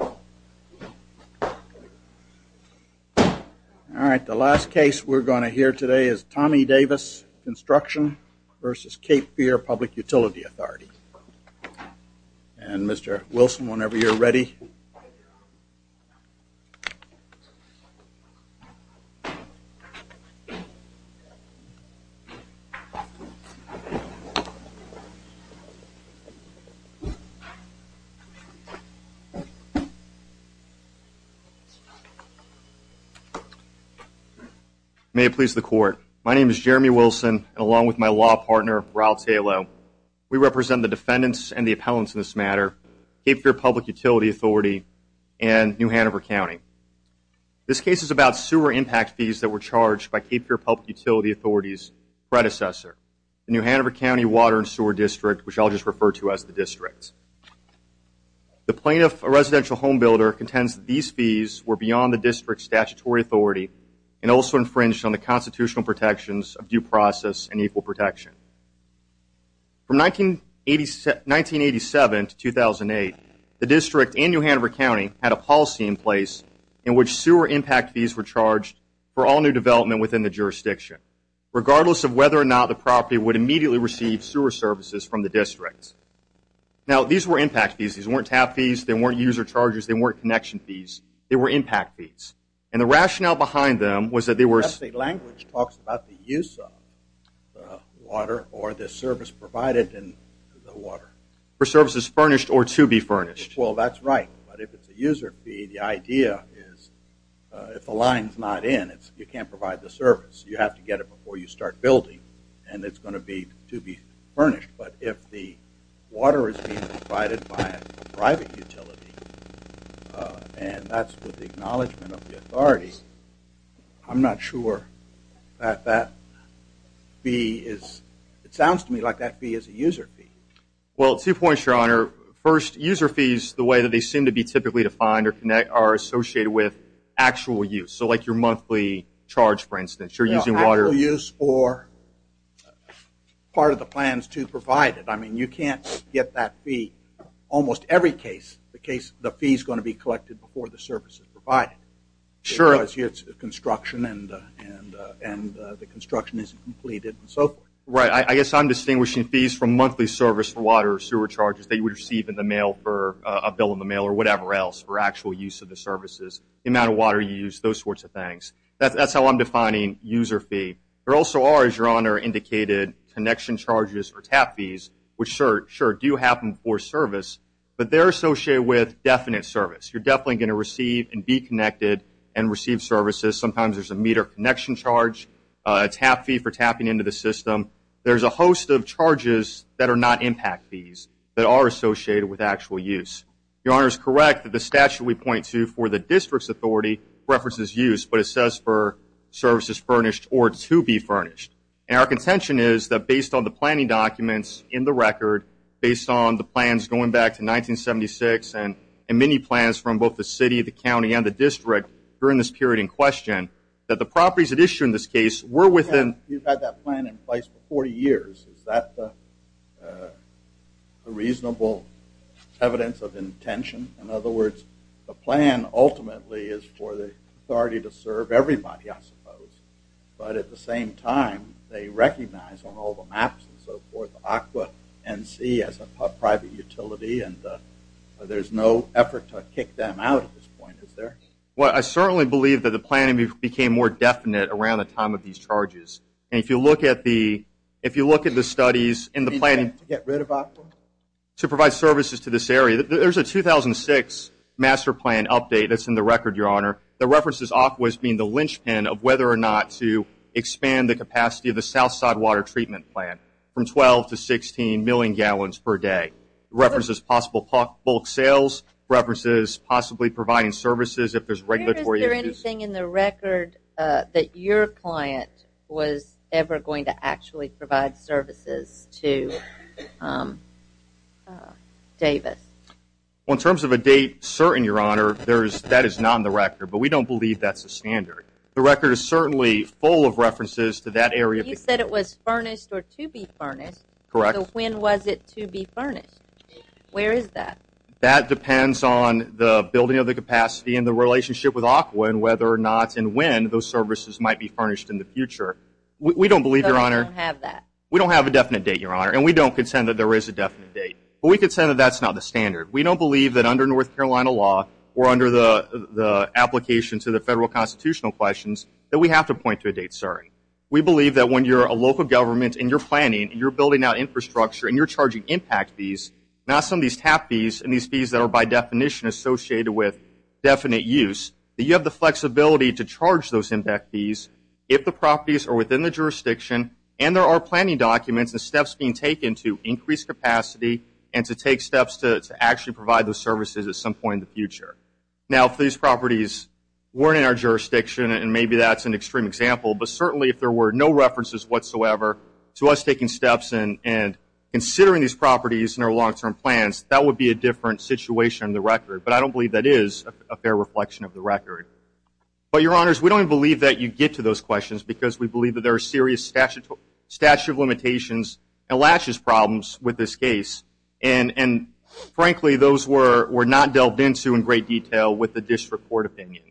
All right, the last case we're going to hear today is Tommy Davis Construction v. Cape Fear Public Utility Authority. And Mr. Wilson, whenever you're ready. May it please the Court. My name is Jeremy Wilson, along with my law partner, Ralph Talo. We represent the defendants and the appellants in this matter, Cape Fear Public Utility Authority and New Hanover County. This case is about sewer impact fees that were charged by Cape Fear Public Utility Authority's predecessor, the New Hanover County Water and Sewer District, which I'll just refer to as the district. The plaintiff, a residential home builder, contends that these fees were beyond the district's statutory authority and also infringed on the constitutional protections of due process and equal protection. From 1987 to 2008, the district and New Hanover County had a policy in place in which sewer impact fees were charged for all new development within the jurisdiction, regardless of whether or not the property would immediately receive sewer services from the district. Now, these were impact fees. These weren't tap fees. They weren't user charges. They weren't connection fees. They were impact fees. And the rationale behind them was that they were... That language talks about the use of water or the service provided in the water. For services furnished or to be furnished. Well, that's right. But if it's a user fee, the idea is if the line's not in, you can't provide the service. You have to get it before you start building and it's going to be to be furnished. But if the water is being provided by a private utility, and that's with the acknowledgement of the authority, I'm not sure that that fee is... It sounds to me like that fee is a user fee. Well, two points, Your Honor. First, user fees, the way that they seem to be typically defined or connect, are associated with actual use. So like your monthly charge, for instance. Actual use for part of the plans to provide it. I mean, you can't get that fee almost every case. The fee's going to be collected before the service is provided. Sure. Because here it's construction and the construction isn't completed and so forth. Right. I guess I'm distinguishing fees from monthly service for water or sewer charges that you would receive in the mail for a bill in the mail or whatever else for actual use of the services. The amount of water you use, those sorts of things. That's how I'm defining user fee. There also are, as Your Honor indicated, connection charges or TAP fees, which sure do happen for service, but they're associated with definite service. You're definitely going to receive and be connected and receive services. Sometimes there's a meter connection charge, a TAP fee for tapping into the system. There's a host of charges that are not impact fees that are associated with actual use. Your Honor is correct that the statute we for services furnished or to be furnished. Our contention is that based on the planning documents in the record, based on the plans going back to 1976 and many plans from both the city, the county, and the district during this period in question, that the properties at issue in this case were within... You've had that plan in place for 40 years. Is that a reasonable evidence of intention? In other words, the plan ultimately is for the authority to serve everybody, I suppose, but at the same time, they recognize on all the maps and so forth, AQUA NC as a private utility and there's no effort to kick them out at this point, is there? Well, I certainly believe that the planning became more definite around the time of these charges. If you look at the studies in the planning... To get rid of AQUA? To provide services to this area. There's a 2006 master plan update that's in the record, Your Honor, that references AQUA as being the linchpin of whether or not to expand the capacity of the south side water treatment plant from 12 to 16 million gallons per day. References possible bulk sales, references possibly providing services if there's regulatory issues. Is there anything in the record that your client was ever going to actually provide services to Davis? In terms of a date certain, Your Honor, that is not in the record, but we don't believe that's the standard. The record is certainly full of references to that area. You said it was furnished or to be furnished. Correct. So when was it to be furnished? Where is that? That depends on the building of the capacity and the relationship with AQUA and whether or not and when those services might be furnished in the future. We don't believe, Your Honor... So you don't have that? We don't have a definite date, Your Honor, and we don't contend that there is a definite date. But we can say that that's not the standard. We don't believe that under North Carolina law or under the application to the federal constitutional questions that we have to point to a date certain. We believe that when you're a local government and you're planning and you're building out infrastructure and you're charging impact fees, not some of these TAP fees and these fees that are by definition associated with definite use, that you have the flexibility to charge those impact fees if the properties are within the jurisdiction and there are steps being taken to increase capacity and to take steps to actually provide those services at some point in the future. Now, if these properties weren't in our jurisdiction and maybe that's an extreme example, but certainly if there were no references whatsoever to us taking steps and considering these properties in our long-term plans, that would be a different situation in the record. But I don't believe that is a fair reflection of the record. But, Your Honors, we don't even believe that you get to those questions because we believe that there are serious statute of limitations and laches problems with this case. And frankly, those were not delved into in great detail with the district court opinion.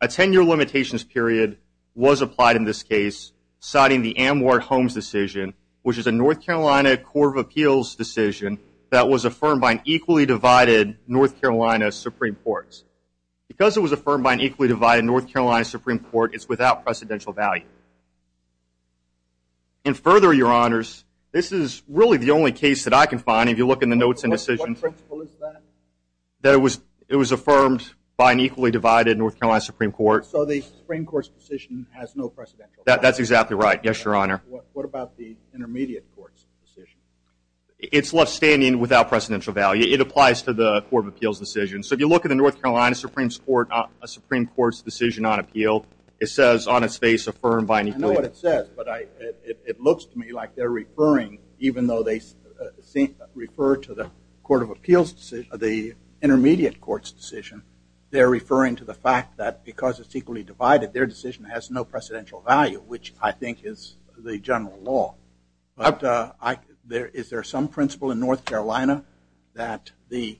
A 10-year limitations period was applied in this case, citing the Amwar Holmes decision, which is a North Carolina Court of Appeals decision that was affirmed by an equally divided North Carolina Supreme Court. Because it was affirmed by an equally divided North Carolina Supreme Court, it's without precedential value. And further, Your Honors, this is really the only case that I can find, if you look in the notes and decisions, that it was affirmed by an equally divided North Carolina Supreme Court. So the Supreme Court's decision has no precedential value? That's exactly right. Yes, Your Honor. What about the intermediate court's decision? It's left standing without precedential value. It applies to the Court of Appeals decision. So if you look at the North Carolina Supreme Court's decision on appeal, it says on its face affirmed by an equally divided North Carolina Supreme Court. I know what it says, but it looks to me like they're referring, even though they refer to the Court of Appeals decision, the intermediate court's decision, they're referring to the fact that because it's equally divided, their decision has no precedential value, which I think is the general law. But is there some principle in North Carolina that the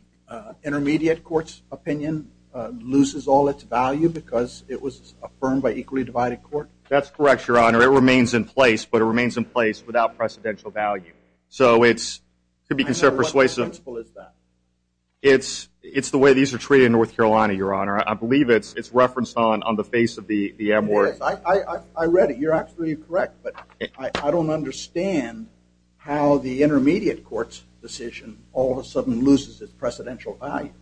intermediate court's opinion loses all its value because it was affirmed by equally divided court? That's correct, Your Honor. It remains in place, but it remains in place without precedential value. So it's to be considered persuasive. And what principle is that? It's the way these are treated in North Carolina, Your Honor. I believe it's referenced on the face of the M-word. Yes, I read it. You're absolutely correct. But I don't understand how the intermediate court's decision all of a sudden loses its precedential value.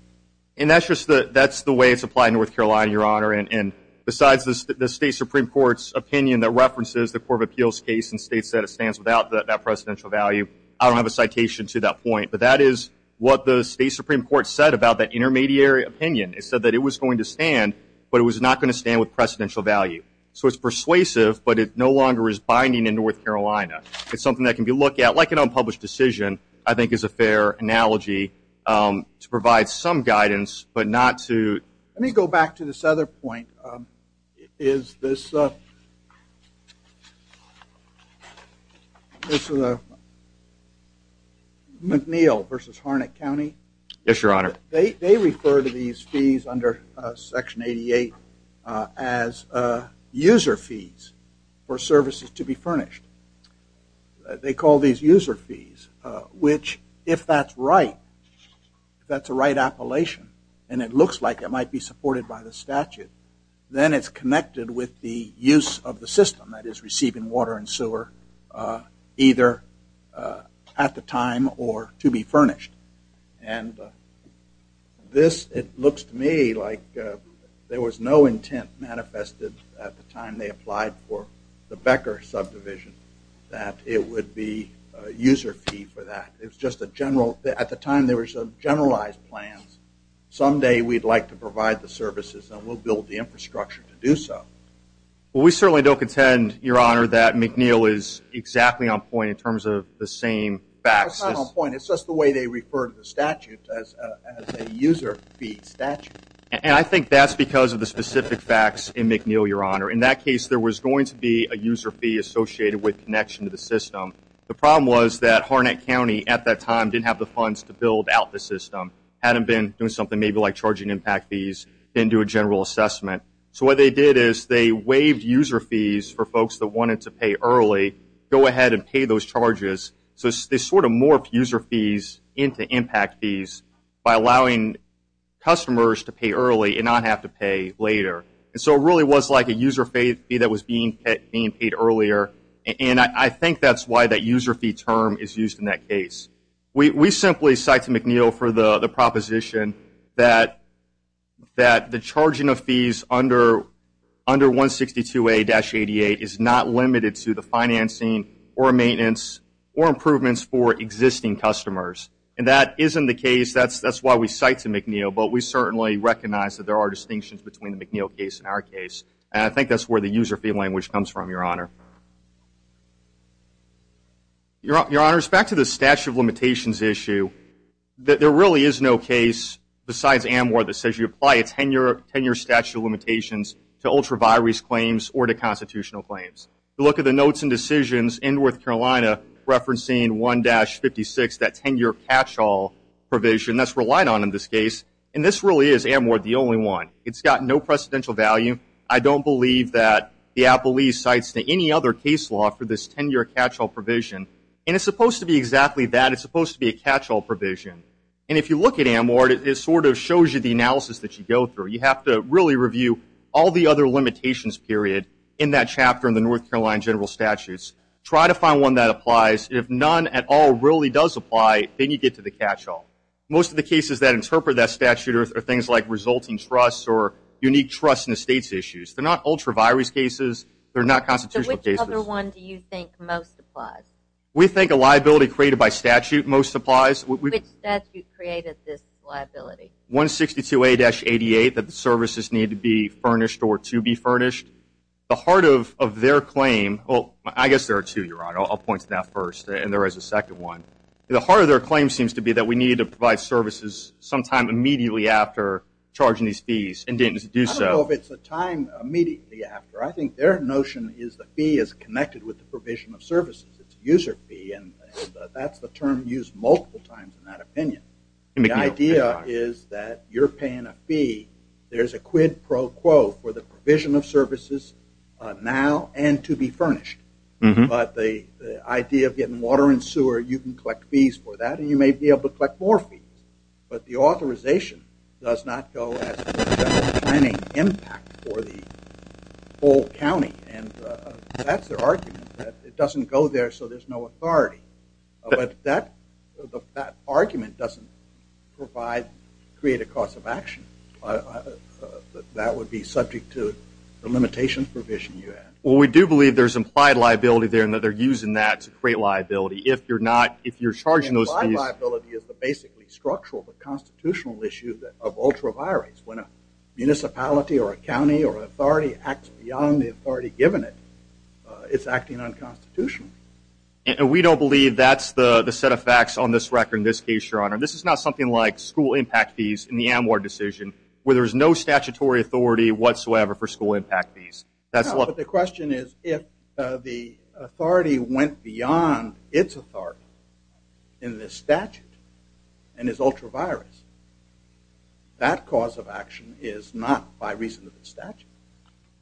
And that's just the way it's applied in North Carolina, Your Honor. And besides the state Supreme Court's opinion that references the Court of Appeals case and states that it stands without that precedential value, I don't have a citation to that point. But that is what the state Supreme Court said about that intermediary opinion. It said that it was going to stand, but it was not going to stand with precedential value. So it's persuasive, but it no longer is binding in North Carolina. It's something that can be looked at, like an unpublished decision, I think is a fair analogy, to provide some guidance, but not to Let me go back to this other point. Is this McNeil v. Harnett County? Yes, Your Honor. They refer to these fees under Section 88 as user fees for services to be furnished. They call these user fees, which if that's right, if that's a right appellation and it looks like it might be supported by the statute, then it's connected with the use of the system that is receiving water and sewer either at the time or to be furnished. And this, it looks to me like there was no intent manifested at the time they applied for the Becker subdivision that it would be a user fee for that. It was just a general, at the time there were some generalized plans, someday we'd like to provide the services and we'll build the infrastructure to do so. Well, we certainly don't contend, Your Honor, that McNeil is exactly on point in terms of the same facts. It's not on point. It's just the way they refer to the statute as a user fee statute. And I think that's because of the specific facts in McNeil, Your Honor. In that case, there was going to be a user fee associated with connection to the system. The problem was that Harnett County at that time didn't have the funds to build out the system, hadn't been doing something maybe like charging impact fees, didn't do a general assessment. So what they did is they waived user fees for folks that wanted to pay early, go ahead and pay those charges. So they sort of morphed user fees into impact fees by allowing customers to pay early and not have to pay later. So it really was like a user fee that was being paid earlier. And I think that's why that user fee term is used in that case. We simply cite to McNeil for the proposition that the charging of fees under 162A-88 is not limited to the financing or maintenance or improvements for existing customers. And that isn't the case. That's why we cite to McNeil. But we certainly recognize that there are distinctions between the McNeil case and our case. And I think that's where the user fee language comes from, Your Honor. Your Honor, back to the statute of limitations issue. There really is no case besides Amor that says you apply a 10-year statute of limitations to ultra-virus claims or to constitutional claims. Look at the notes and decisions in North Carolina referencing 1-56, that 10-year catch-all provision that's relied on in this case. And this really is, Amor, the only one. It's got no precedential value. I don't believe that the Appellee cites to any other case law for this 10-year catch-all provision. And it's supposed to be exactly that. It's supposed to be a catch-all provision. And if you look at Amor, it sort of shows you the analysis that you go through. You have to really review all the other limitations period in that chapter in the North Carolina general statutes. Try to find one that applies. If none at all really does apply, then you get to the catch-all. Most of the cases that are unique trust and estates issues, they're not ultra-virus cases. They're not constitutional cases. So which other one do you think most applies? We think a liability created by statute most applies. Which statute created this liability? 162A-88, that the services need to be furnished or to be furnished. The heart of their claim, well, I guess there are two, Your Honor. I'll point to that first and there is a second one. The heart of their claim seems to be that we need to provide services sometime immediately after charging these fees and didn't do so. I don't know if it's a time immediately after. I think their notion is the fee is connected with the provision of services. It's a user fee and that's the term used multiple times in that opinion. The idea is that you're paying a fee. There's a quid pro quo for the provision of services now and to be furnished. But the idea of getting water and sewer, you can collect fees for that and you may be able to collect more fees. But the authorization does not go as a training impact for the whole county. And that's their argument. It doesn't go there so there's no authority. But that argument doesn't provide create a cost of action. That would be subject to the limitation provision you had. Well, we do believe there's implied liability there and that they're using that to create liability. If you're not, if you're charging those fees. Implied liability is the basically structural but constitutional issue of ultraviolence. When a municipality or a county or an authority acts beyond the authority given it, it's acting unconstitutional. And we don't believe that's the set of facts on this record in this case, Your Honor. This is not something like school impact fees in the Amwar decision where there's no statutory authority whatsoever for school impact fees. But the question is if the authority went beyond its authority in this statute and is ultraviolence, that cause of action is not by reason of the statute.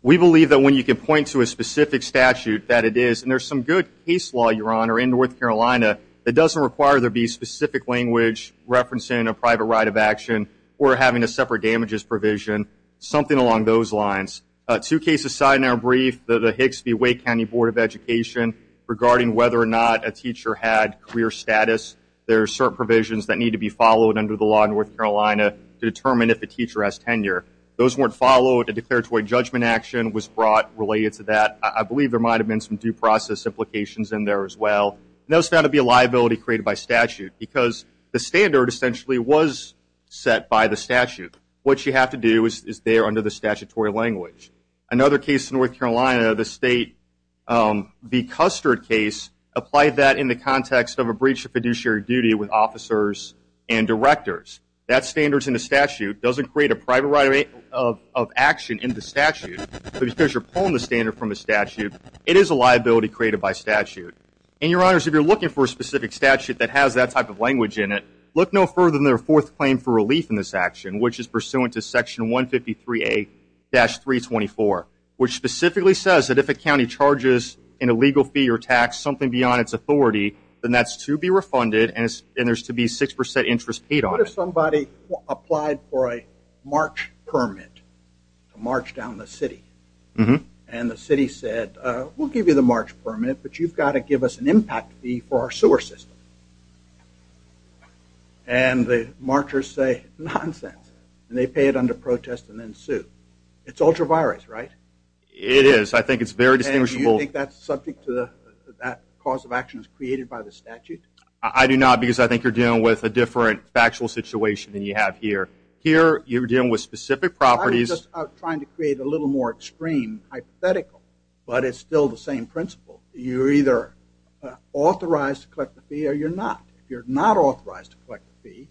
We believe that when you can point to a specific statute that it is, and there's some good case law, Your Honor, in North Carolina that doesn't require there be specific language referencing a private right of action or having a separate damages provision, something along those lines, two cases side in our brief, the Hicks v. Wake County Board of Education regarding whether or not a teacher had career status. There are certain provisions that need to be followed under the law in North Carolina to determine if a teacher has tenure. Those weren't followed. A declaratory judgment action was brought related to that. I believe there might have been some due process implications in there as well. And those found to be a liability created by statute because the standard essentially was set by the statute. What you have to do is there under the statutory language. Another case in North Carolina, the state, the Custard case applied that in the context of a breach of fiduciary duty with officers and directors. That standard's in the statute, doesn't create a private right of action in the statute, but because you're pulling the standard from the statute, it is a liability created by statute. And Your Honors, if you're looking for a specific statute that has that type of language in it, look no further than their fourth claim for relief in this action, which is pursuant to section 153A-324, which specifically says that if a county charges an illegal fee or tax, something beyond its authority, then that's to be refunded and there's to be 6% interest paid on it. What if somebody applied for a march permit to march down the city? And the city said, we'll give you the march permit, but you've got to give us an impact fee for our sewer system. And the marchers say, nonsense. And they pay it under protest and then sue. It's ultra-virus, right? It is. I think it's very distinguishable. And you think that's subject to the, that cause of action is created by the statute? I do not, because I think you're dealing with a different factual situation than you have here. Here, you're dealing with specific properties. I was just trying to create a little more extreme hypothetical, but it's still the same principle. You're either authorized to collect the fee or you're not. If you're not authorized to collect the fee,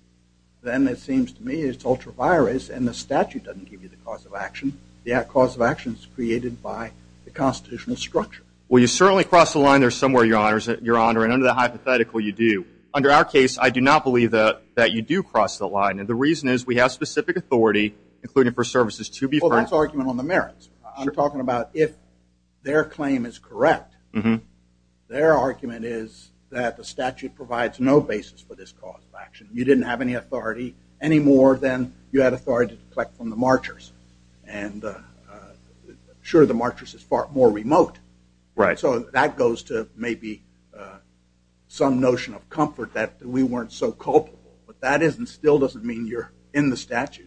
then it seems to me it's ultra-virus and the statute doesn't give you the cause of action. The cause of action is created by the constitutional structure. Well, you certainly cross the line there somewhere, Your Honor. And under the hypothetical, you do. Under our case, I do not believe that you do cross the line. And the reason is we have specific authority, including for services to be refunded. That's argument on the merits. You're talking about if their claim is correct, their argument is that the statute provides no basis for this cause of action. You didn't have any authority, any more than you had authority to collect from the marchers. And sure, the marchers is far more remote. So that goes to maybe some notion of comfort that we weren't so culpable. But that still doesn't mean you're in the statute.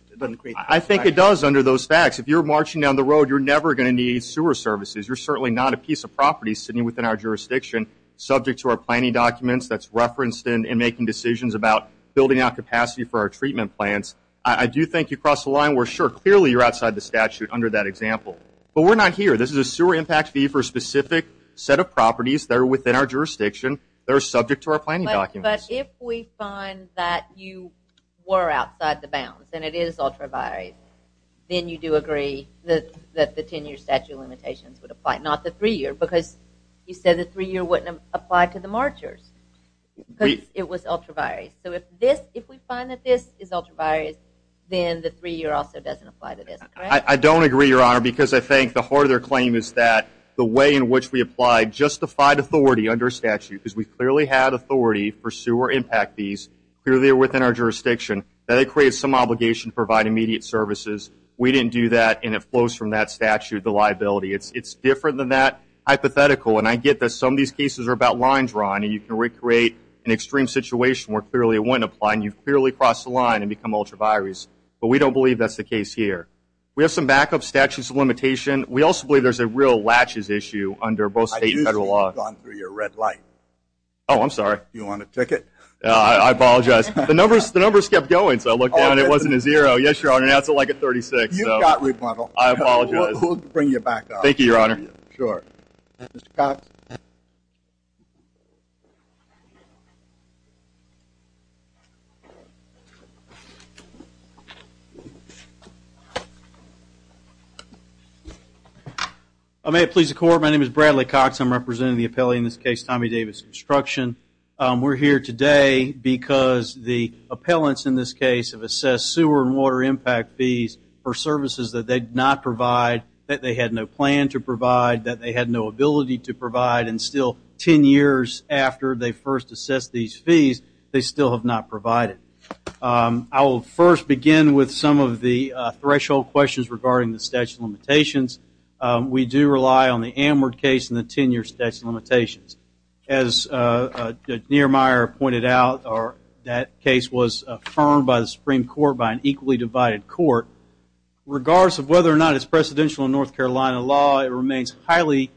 I think it does under those facts. If you're marching down the road, you're never going to need sewer services. You're certainly not a piece of property sitting within our jurisdiction subject to our planning documents that's referenced in making decisions about building out capacity for our treatment plants. I do think you cross the line. We're sure clearly you're outside the statute under that example. But we're not here. This is a sewer impact fee for a specific set of properties. They're within our jurisdiction. They're subject to our planning documents. But if we find that you were outside the bounds, and it is ultra-vires, then you do agree that the 10-year statute of limitations would apply. Not the 3-year, because you said the 3-year wouldn't apply to the marchers. Because it was ultra-vires. So if we find that this is ultra-vires, then the 3-year also doesn't apply to this, correct? I don't agree, Your Honor, because I think the heart of their claim is that the way in which we applied justified authority under statute, because we clearly had authority for sewer impact fees, clearly within our jurisdiction, that it creates some obligation to provide immediate services. We didn't do that, and it flows from that statute, the liability. It's different than that hypothetical. And I get that some of these cases are about line drawing, and you can recreate an extreme situation where clearly it wouldn't apply, and you've clearly crossed the line and become ultra-vires. But we don't believe that's the case here. We have some backup statutes of limitation. We also believe there's a real latches issue under both state and federal law. I knew you had gone through your red light. Oh, I'm sorry. You want a ticket? I apologize. The numbers kept going, so I looked down, and it wasn't a zero. Yes, Your Honor, now it's like a 36. You've got rebuttal. I apologize. We'll bring you back up. Thank you, Your Honor. Sure. Mr. Cox? I may it please the Court, my name is Bradley Cox. I'm representing the appellee in this case, Tommy Davis Construction. We're here today because the appellants in this case have assessed sewer and water impact fees for services that they did not provide, that they had no ability to provide, and still, 10 years after they first assessed these fees, they still have not provided. I will first begin with some of the threshold questions regarding the statute of limitations. We do rely on the Amward case and the 10-year statute of limitations. As Niermeyer pointed out, that case was affirmed by the Supreme Court by an equally divided court. Regardless of whether or not it's precedential in North Carolina, it's fairly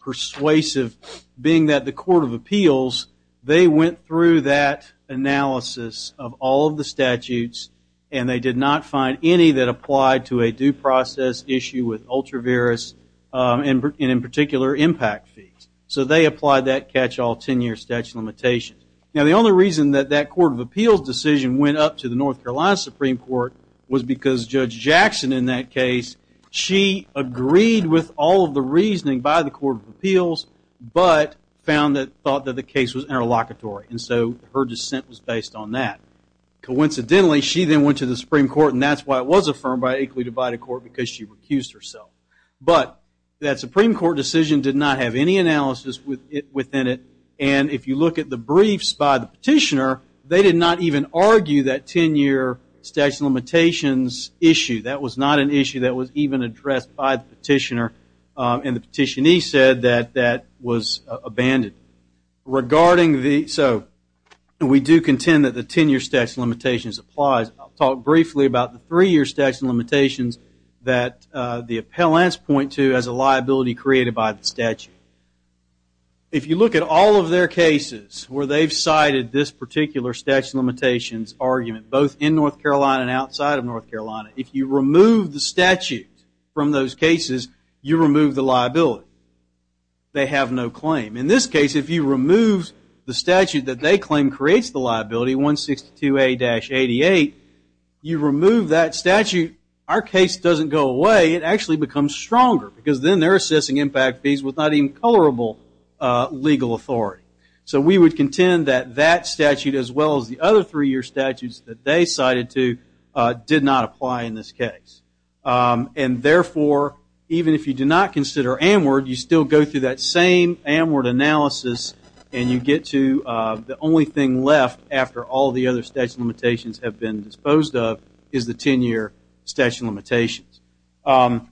persuasive, being that the Court of Appeals, they went through that analysis of all of the statutes, and they did not find any that applied to a due process issue with ultra-virus, and in particular, impact fees. So they applied that catch-all 10-year statute of limitations. Now, the only reason that that Court of Appeals decision went up to the North Carolina Supreme Court was because Judge Jackson, in that case, she was affirmed by the Court of Appeals, but found that the case was interlocutory, and so her dissent was based on that. Coincidentally, she then went to the Supreme Court, and that's why it was affirmed by an equally divided court, because she recused herself. But that Supreme Court decision did not have any analysis within it, and if you look at the briefs by the petitioner, they did not even argue that 10-year statute of limitations issue. That was not an issue that was even addressed by the petitioner, and the petitionee said that that was abandoned. So, we do contend that the 10-year statute of limitations applies. I'll talk briefly about the three-year statute of limitations that the appellants point to as a liability created by the statute. If you look at all of their cases where they've cited this particular statute of limitations argument, both in North Carolina and outside of North Carolina, if you remove the statute from those cases, you remove the liability. They have no claim. In this case, if you remove the statute that they claim creates the liability, 162A-88, you remove that statute, our case doesn't go away. It actually becomes stronger, because then they're assessing impact fees with not even colorable legal authority. So, we would contend that that statute, as well as the other three-year statutes that they cite, did not apply in this case. And therefore, even if you do not consider AMWRD, you still go through that same AMWRD analysis, and you get to the only thing left after all the other statute of limitations have been disposed of, is the 10-year statute of limitations. Going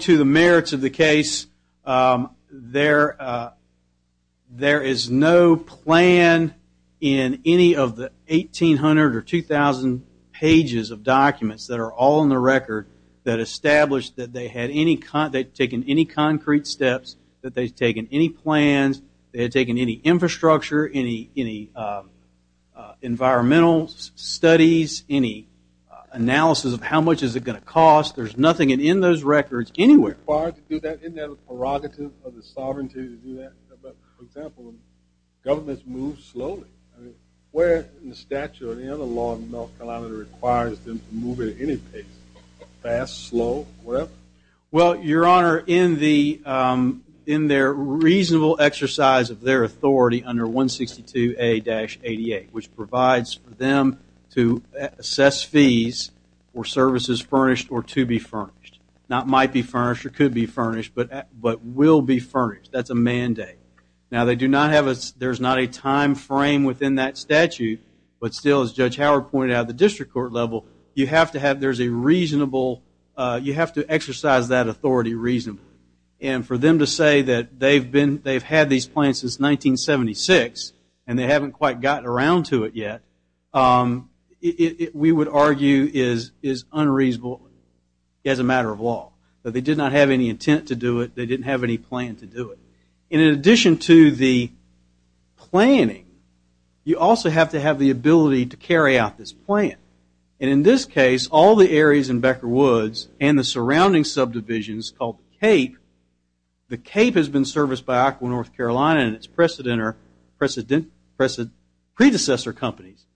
to the merits of the case, there is no plan in any of the 1800 or 2000 cases that pages of documents that are all in the record that establish that they had taken any concrete steps, that they've taken any plans, they had taken any infrastructure, any environmental studies, any analysis of how much is it going to cost. There's nothing in those records anywhere. Isn't it required to do that? Isn't that a prerogative of the sovereignty to do that? For example, governments move slowly. Where in the statute or any other law in the North Carolina that requires them to move at any pace, fast, slow, whatever? Well, Your Honor, in their reasonable exercise of their authority under 162A-88, which provides for them to assess fees for services furnished or to be furnished, not might be furnished or could be furnished, but will be furnished. That's a mandate. Now there's not a time frame within that statute, but still, as Judge Howard pointed out at the district court level, you have to exercise that authority reasonably. And for them to say that they've had these plans since 1976 and they haven't quite gotten around to it yet, we would argue is unreasonable as a matter of law. They did not have any intent to do it. They didn't have any plan to do it. And in addition to the planning, you also have to have the ability to carry out this plan. And in this case, all the areas in Becker Woods and the surrounding subdivisions called the Cape, the Cape has been serviced by Aqua North Carolina and its predecessor companies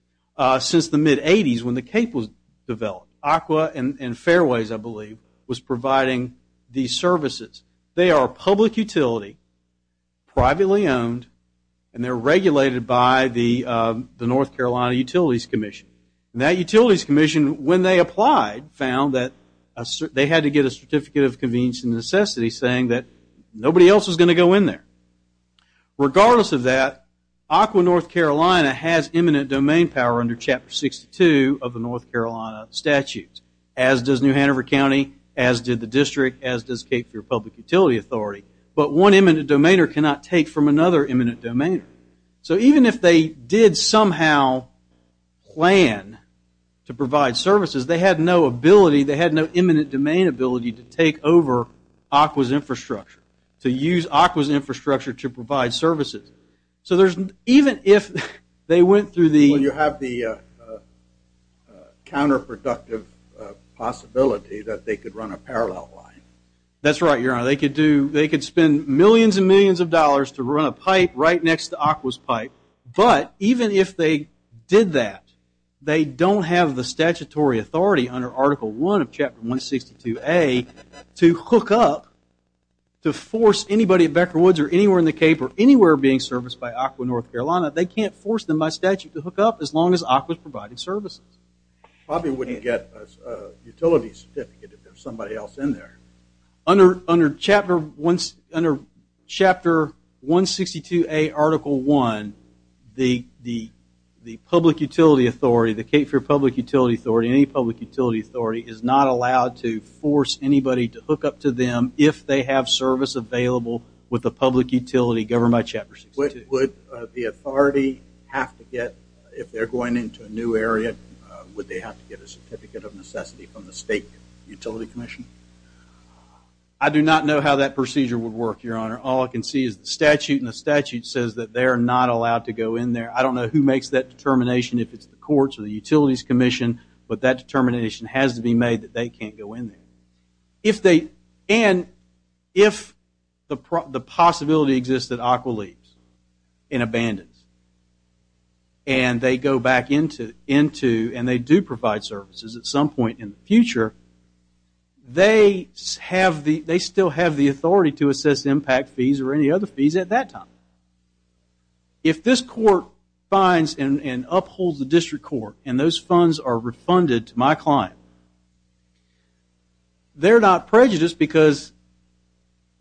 since the mid-80s when the Cape was developed. Aqua and Fairways, I believe, was providing these services. They are a public utility, privately owned, and they're regulated by the North Carolina Utilities Commission. That Utilities Commission, when they applied, found that they had to get a Certificate of Convenience and Necessity saying that nobody else was going to go in there. Regardless of that, Aqua North Carolina has eminent domain power under Chapter 62 of the North Carolina Statute, as does New Hanover County, as did the district, as does Cape Fair Public Utility Authority. But one eminent domainer cannot take from another eminent domainer. So even if they did somehow plan to provide services, they had no ability, they had no eminent domain ability to take over Aqua's infrastructure, to use Aqua's infrastructure to provide services. So there's, even if they went through the... Well, you have the counterproductive possibility that they could run a parallel line. That's right, Your Honor, they could do, they could spend millions and millions of dollars to run a pipe right next to Aqua's pipe, but even if they did that, they don't have the statutory authority under Article 1 of Chapter 162A to hook up, to force anybody at Becker and the Cape, or anywhere being serviced by Aqua North Carolina, they can't force them by statute to hook up as long as Aqua's provided services. Probably wouldn't get a utility certificate if there was somebody else in there. Under Chapter 162A, Article 1, the public utility authority, the Cape Fair Public Utility Authority, any public utility authority, is not allowed to force anybody to hook up to Would the authority have to get, if they're going into a new area, would they have to get a certificate of necessity from the State Utility Commission? I do not know how that procedure would work, Your Honor. All I can see is the statute, and the statute says that they are not allowed to go in there. I don't know who makes that determination, if it's the courts or the Utilities Commission, but that determination has to be made that they can't go in there. If they, and if the possibility exists that Aqua leaves and abandons, and they go back into, and they do provide services at some point in the future, they still have the authority to assess impact fees or any other fees at that time. Now, if this court finds and upholds the district court, and those funds are refunded to my client, they're not prejudiced because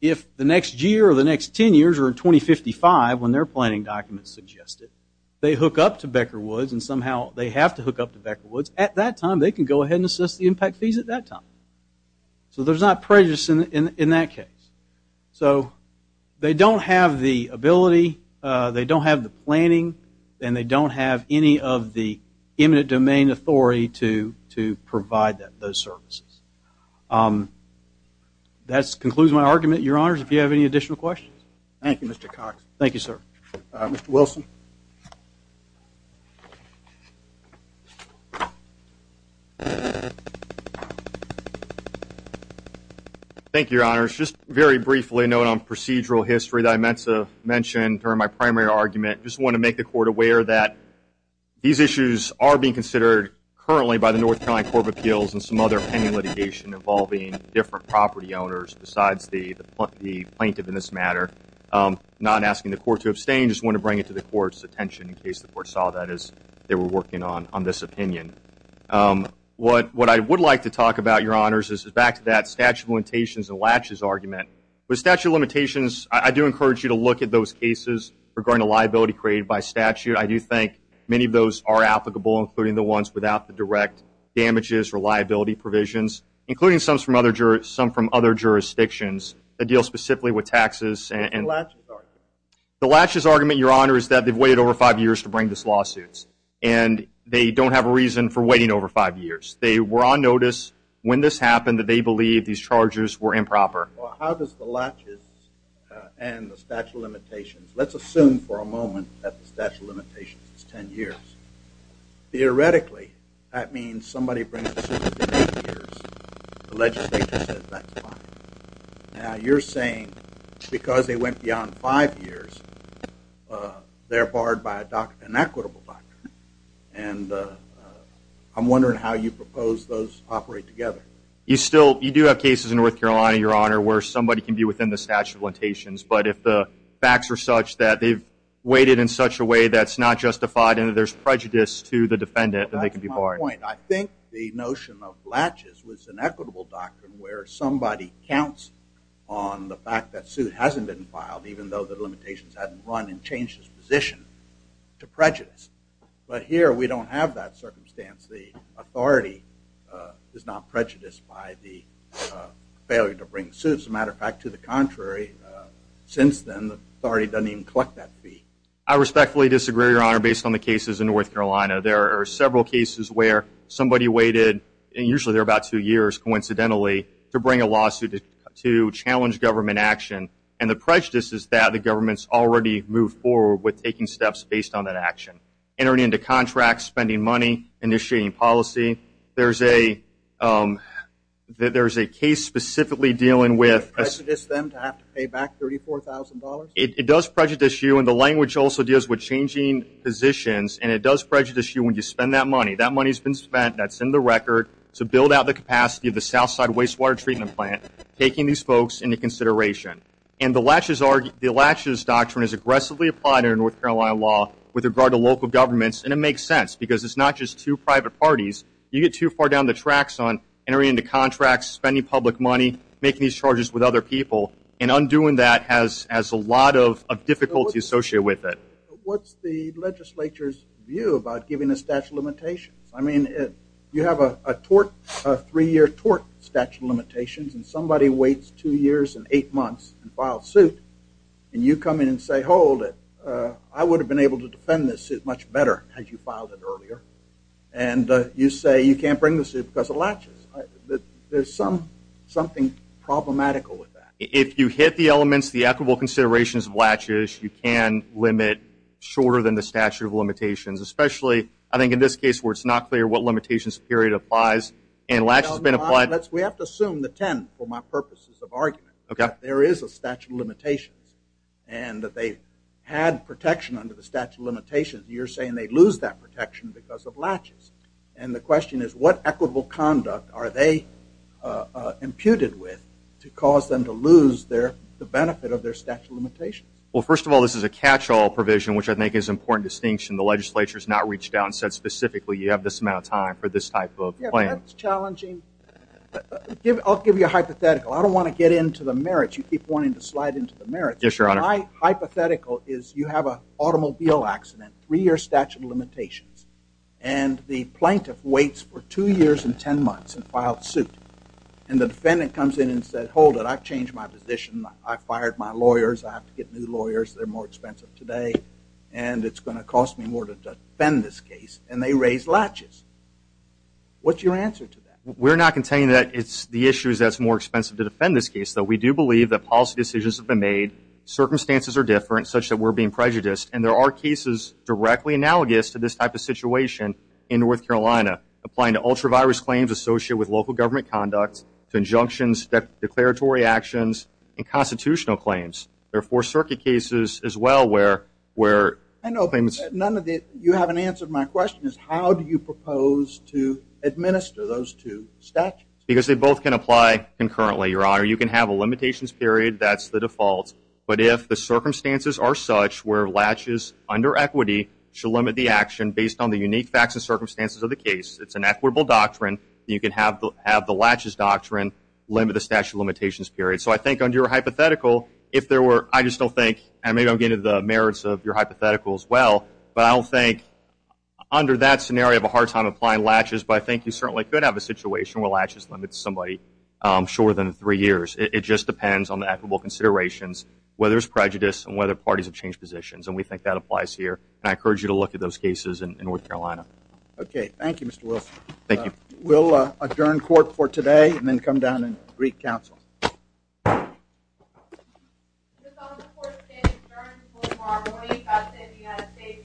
if the next year or the next 10 years or 2055, when their planning documents suggest it, they hook up to Becker Woods, and somehow they have to hook up to Becker Woods, at that time they can go ahead and assess the impact fees at that time. So there's not prejudice in that case. So they don't have the ability, they don't have the planning, and they don't have any of the imminent domain authority to provide those services. That concludes my argument, Your Honors. Do you have any additional questions? Thank you, Mr. Cox. Thank you, sir. Mr. Wilson. Thank you, Your Honors. Just very briefly, note on procedural history that I meant to mention during my primary argument. Just want to make the court aware that these issues are being considered currently by the North Carolina Court of Appeals and some other pending litigation involving different property owners besides the plaintiff in this matter. Not asking the court to abstain, just want to bring it to the court's attention in case the court saw that as they were working on this opinion. What I would like to talk about, Your Honors, is back to that statute of limitations and liability argument. With statute of limitations, I do encourage you to look at those cases regarding a liability created by statute. I do think many of those are applicable, including the ones without the direct damages or liability provisions, including some from other jurisdictions that deal specifically with taxes and- The latches argument. The latches argument, Your Honors, is that they've waited over five years to bring this lawsuit and they don't have a reason for waiting over five years. They were on notice when this happened that they believed these charges were improper. Well, how does the latches and the statute of limitations, let's assume for a moment that the statute of limitations is ten years. Theoretically, that means somebody brings the suit within eight years, the legislature says that's fine. Now, you're saying because they went beyond five years, they're barred by an equitable doctrine. And I'm wondering how you propose those operate together. You still, you do have cases in North Carolina, Your Honor, where somebody can be within the statute of limitations, but if the facts are such that they've waited in such a way that's not justified and there's prejudice to the defendant, then they can be barred. That's my point. I think the notion of latches was an equitable doctrine where somebody counts on the fact that suit hasn't been filed, even though the limitations hadn't run and changed its position to prejudice. But here, we don't have that circumstance. The authority is not prejudiced by the failure to bring the suit. As a matter of fact, to the contrary, since then, the authority doesn't even collect that fee. I respectfully disagree, Your Honor, based on the cases in North Carolina. There are several cases where somebody waited, and usually they're about two years, coincidentally, to bring a lawsuit to challenge government action. And the prejudice is that the government's already moved forward with taking steps based on that action. Entering into contracts, spending money, initiating policy. There's a case specifically dealing with... Does it prejudice them to have to pay back $34,000? It does prejudice you, and the language also deals with changing positions, and it does prejudice you when you spend that money. That money's been spent, that's in the record, to build out the capacity of the Southside Wastewater Treatment Plant, taking these folks into consideration. And the latches doctrine is aggressively applied in North Carolina law with regard to local governments, and it makes sense, because it's not just two private parties. You get too far down the tracks on entering into contracts, spending public money, making these charges with other people, and undoing that has a lot of difficulty associated with it. What's the legislature's view about giving the statute of limitations? I mean, you have a three-year tort statute of limitations, and somebody waits two years and eight months and files suit, and you come in and say, hold it, I would have been able to defend this suit much better had you filed it earlier. And you say you can't bring the suit because of latches. There's something problematical with that. If you hit the elements, the equitable considerations of latches, you can limit shorter than the statute of limitations. It's not clear what limitations period applies, and latches have been applied. We have to assume the 10, for my purposes of argument, that there is a statute of limitations and that they had protection under the statute of limitations. You're saying they lose that protection because of latches. And the question is, what equitable conduct are they imputed with to cause them to lose the benefit of their statute of limitations? Well, first of all, this is a catch-all provision, which I think is an important distinction. The legislature has not reached out and said, specifically, you have this amount of time for this type of claim. Yeah, but that's challenging. I'll give you a hypothetical. I don't want to get into the merits. You keep wanting to slide into the merits. Yes, Your Honor. My hypothetical is you have an automobile accident, three-year statute of limitations, and the plaintiff waits for two years and 10 months and files suit. And the defendant comes in and says, hold it. I've changed my position. I've fired my lawyers. I've changed my position. I've fired my lawyers. I have to get new lawyers. They're more expensive today. to defend this case. And they raise latches. What's your answer to that? We're not contending that it's the issues that's more expensive to defend this case, though. We do believe that policy decisions have been made. Circumstances are different, such that we're being prejudiced. And there are cases directly analogous to this type of situation in North Carolina, applying to ultra-virus claims associated with local government conduct, to injunctions, declaratory actions, and constitutional claims. There are four-circuit cases, as well, where claimants... None of the four-circuit cases. None of the four-circuit cases. And so, the question is, how do you propose to administer those two statutes? Because they both can apply concurrently, Your Honor. You can have a limitations period. That's the default. But if the circumstances are such where latches under equity should limit the action based on the unique facts and circumstances of the case, it's an equitable doctrine. You can have the latches doctrine limit the statute of limitations period. So, I think under your hypothetical, if there were... I just don't think... And maybe I'm getting into the merits of your hypothetical, as well. But I don't think, under that scenario, you have a hard time applying latches. But I think you certainly could have a situation where latches limits somebody shorter than three years. It just depends on the equitable considerations, whether it's prejudice, and whether parties have changed positions. And we think that applies here. And I encourage you to look at those cases in North Carolina. Okay. Thank you, Mr. Wilson. Thank you. We'll adjourn court for today, and then come down and greet counsel. Is this all in support of today's adjournment? This is Melissa Marmoni. God save the United States. This is all in support.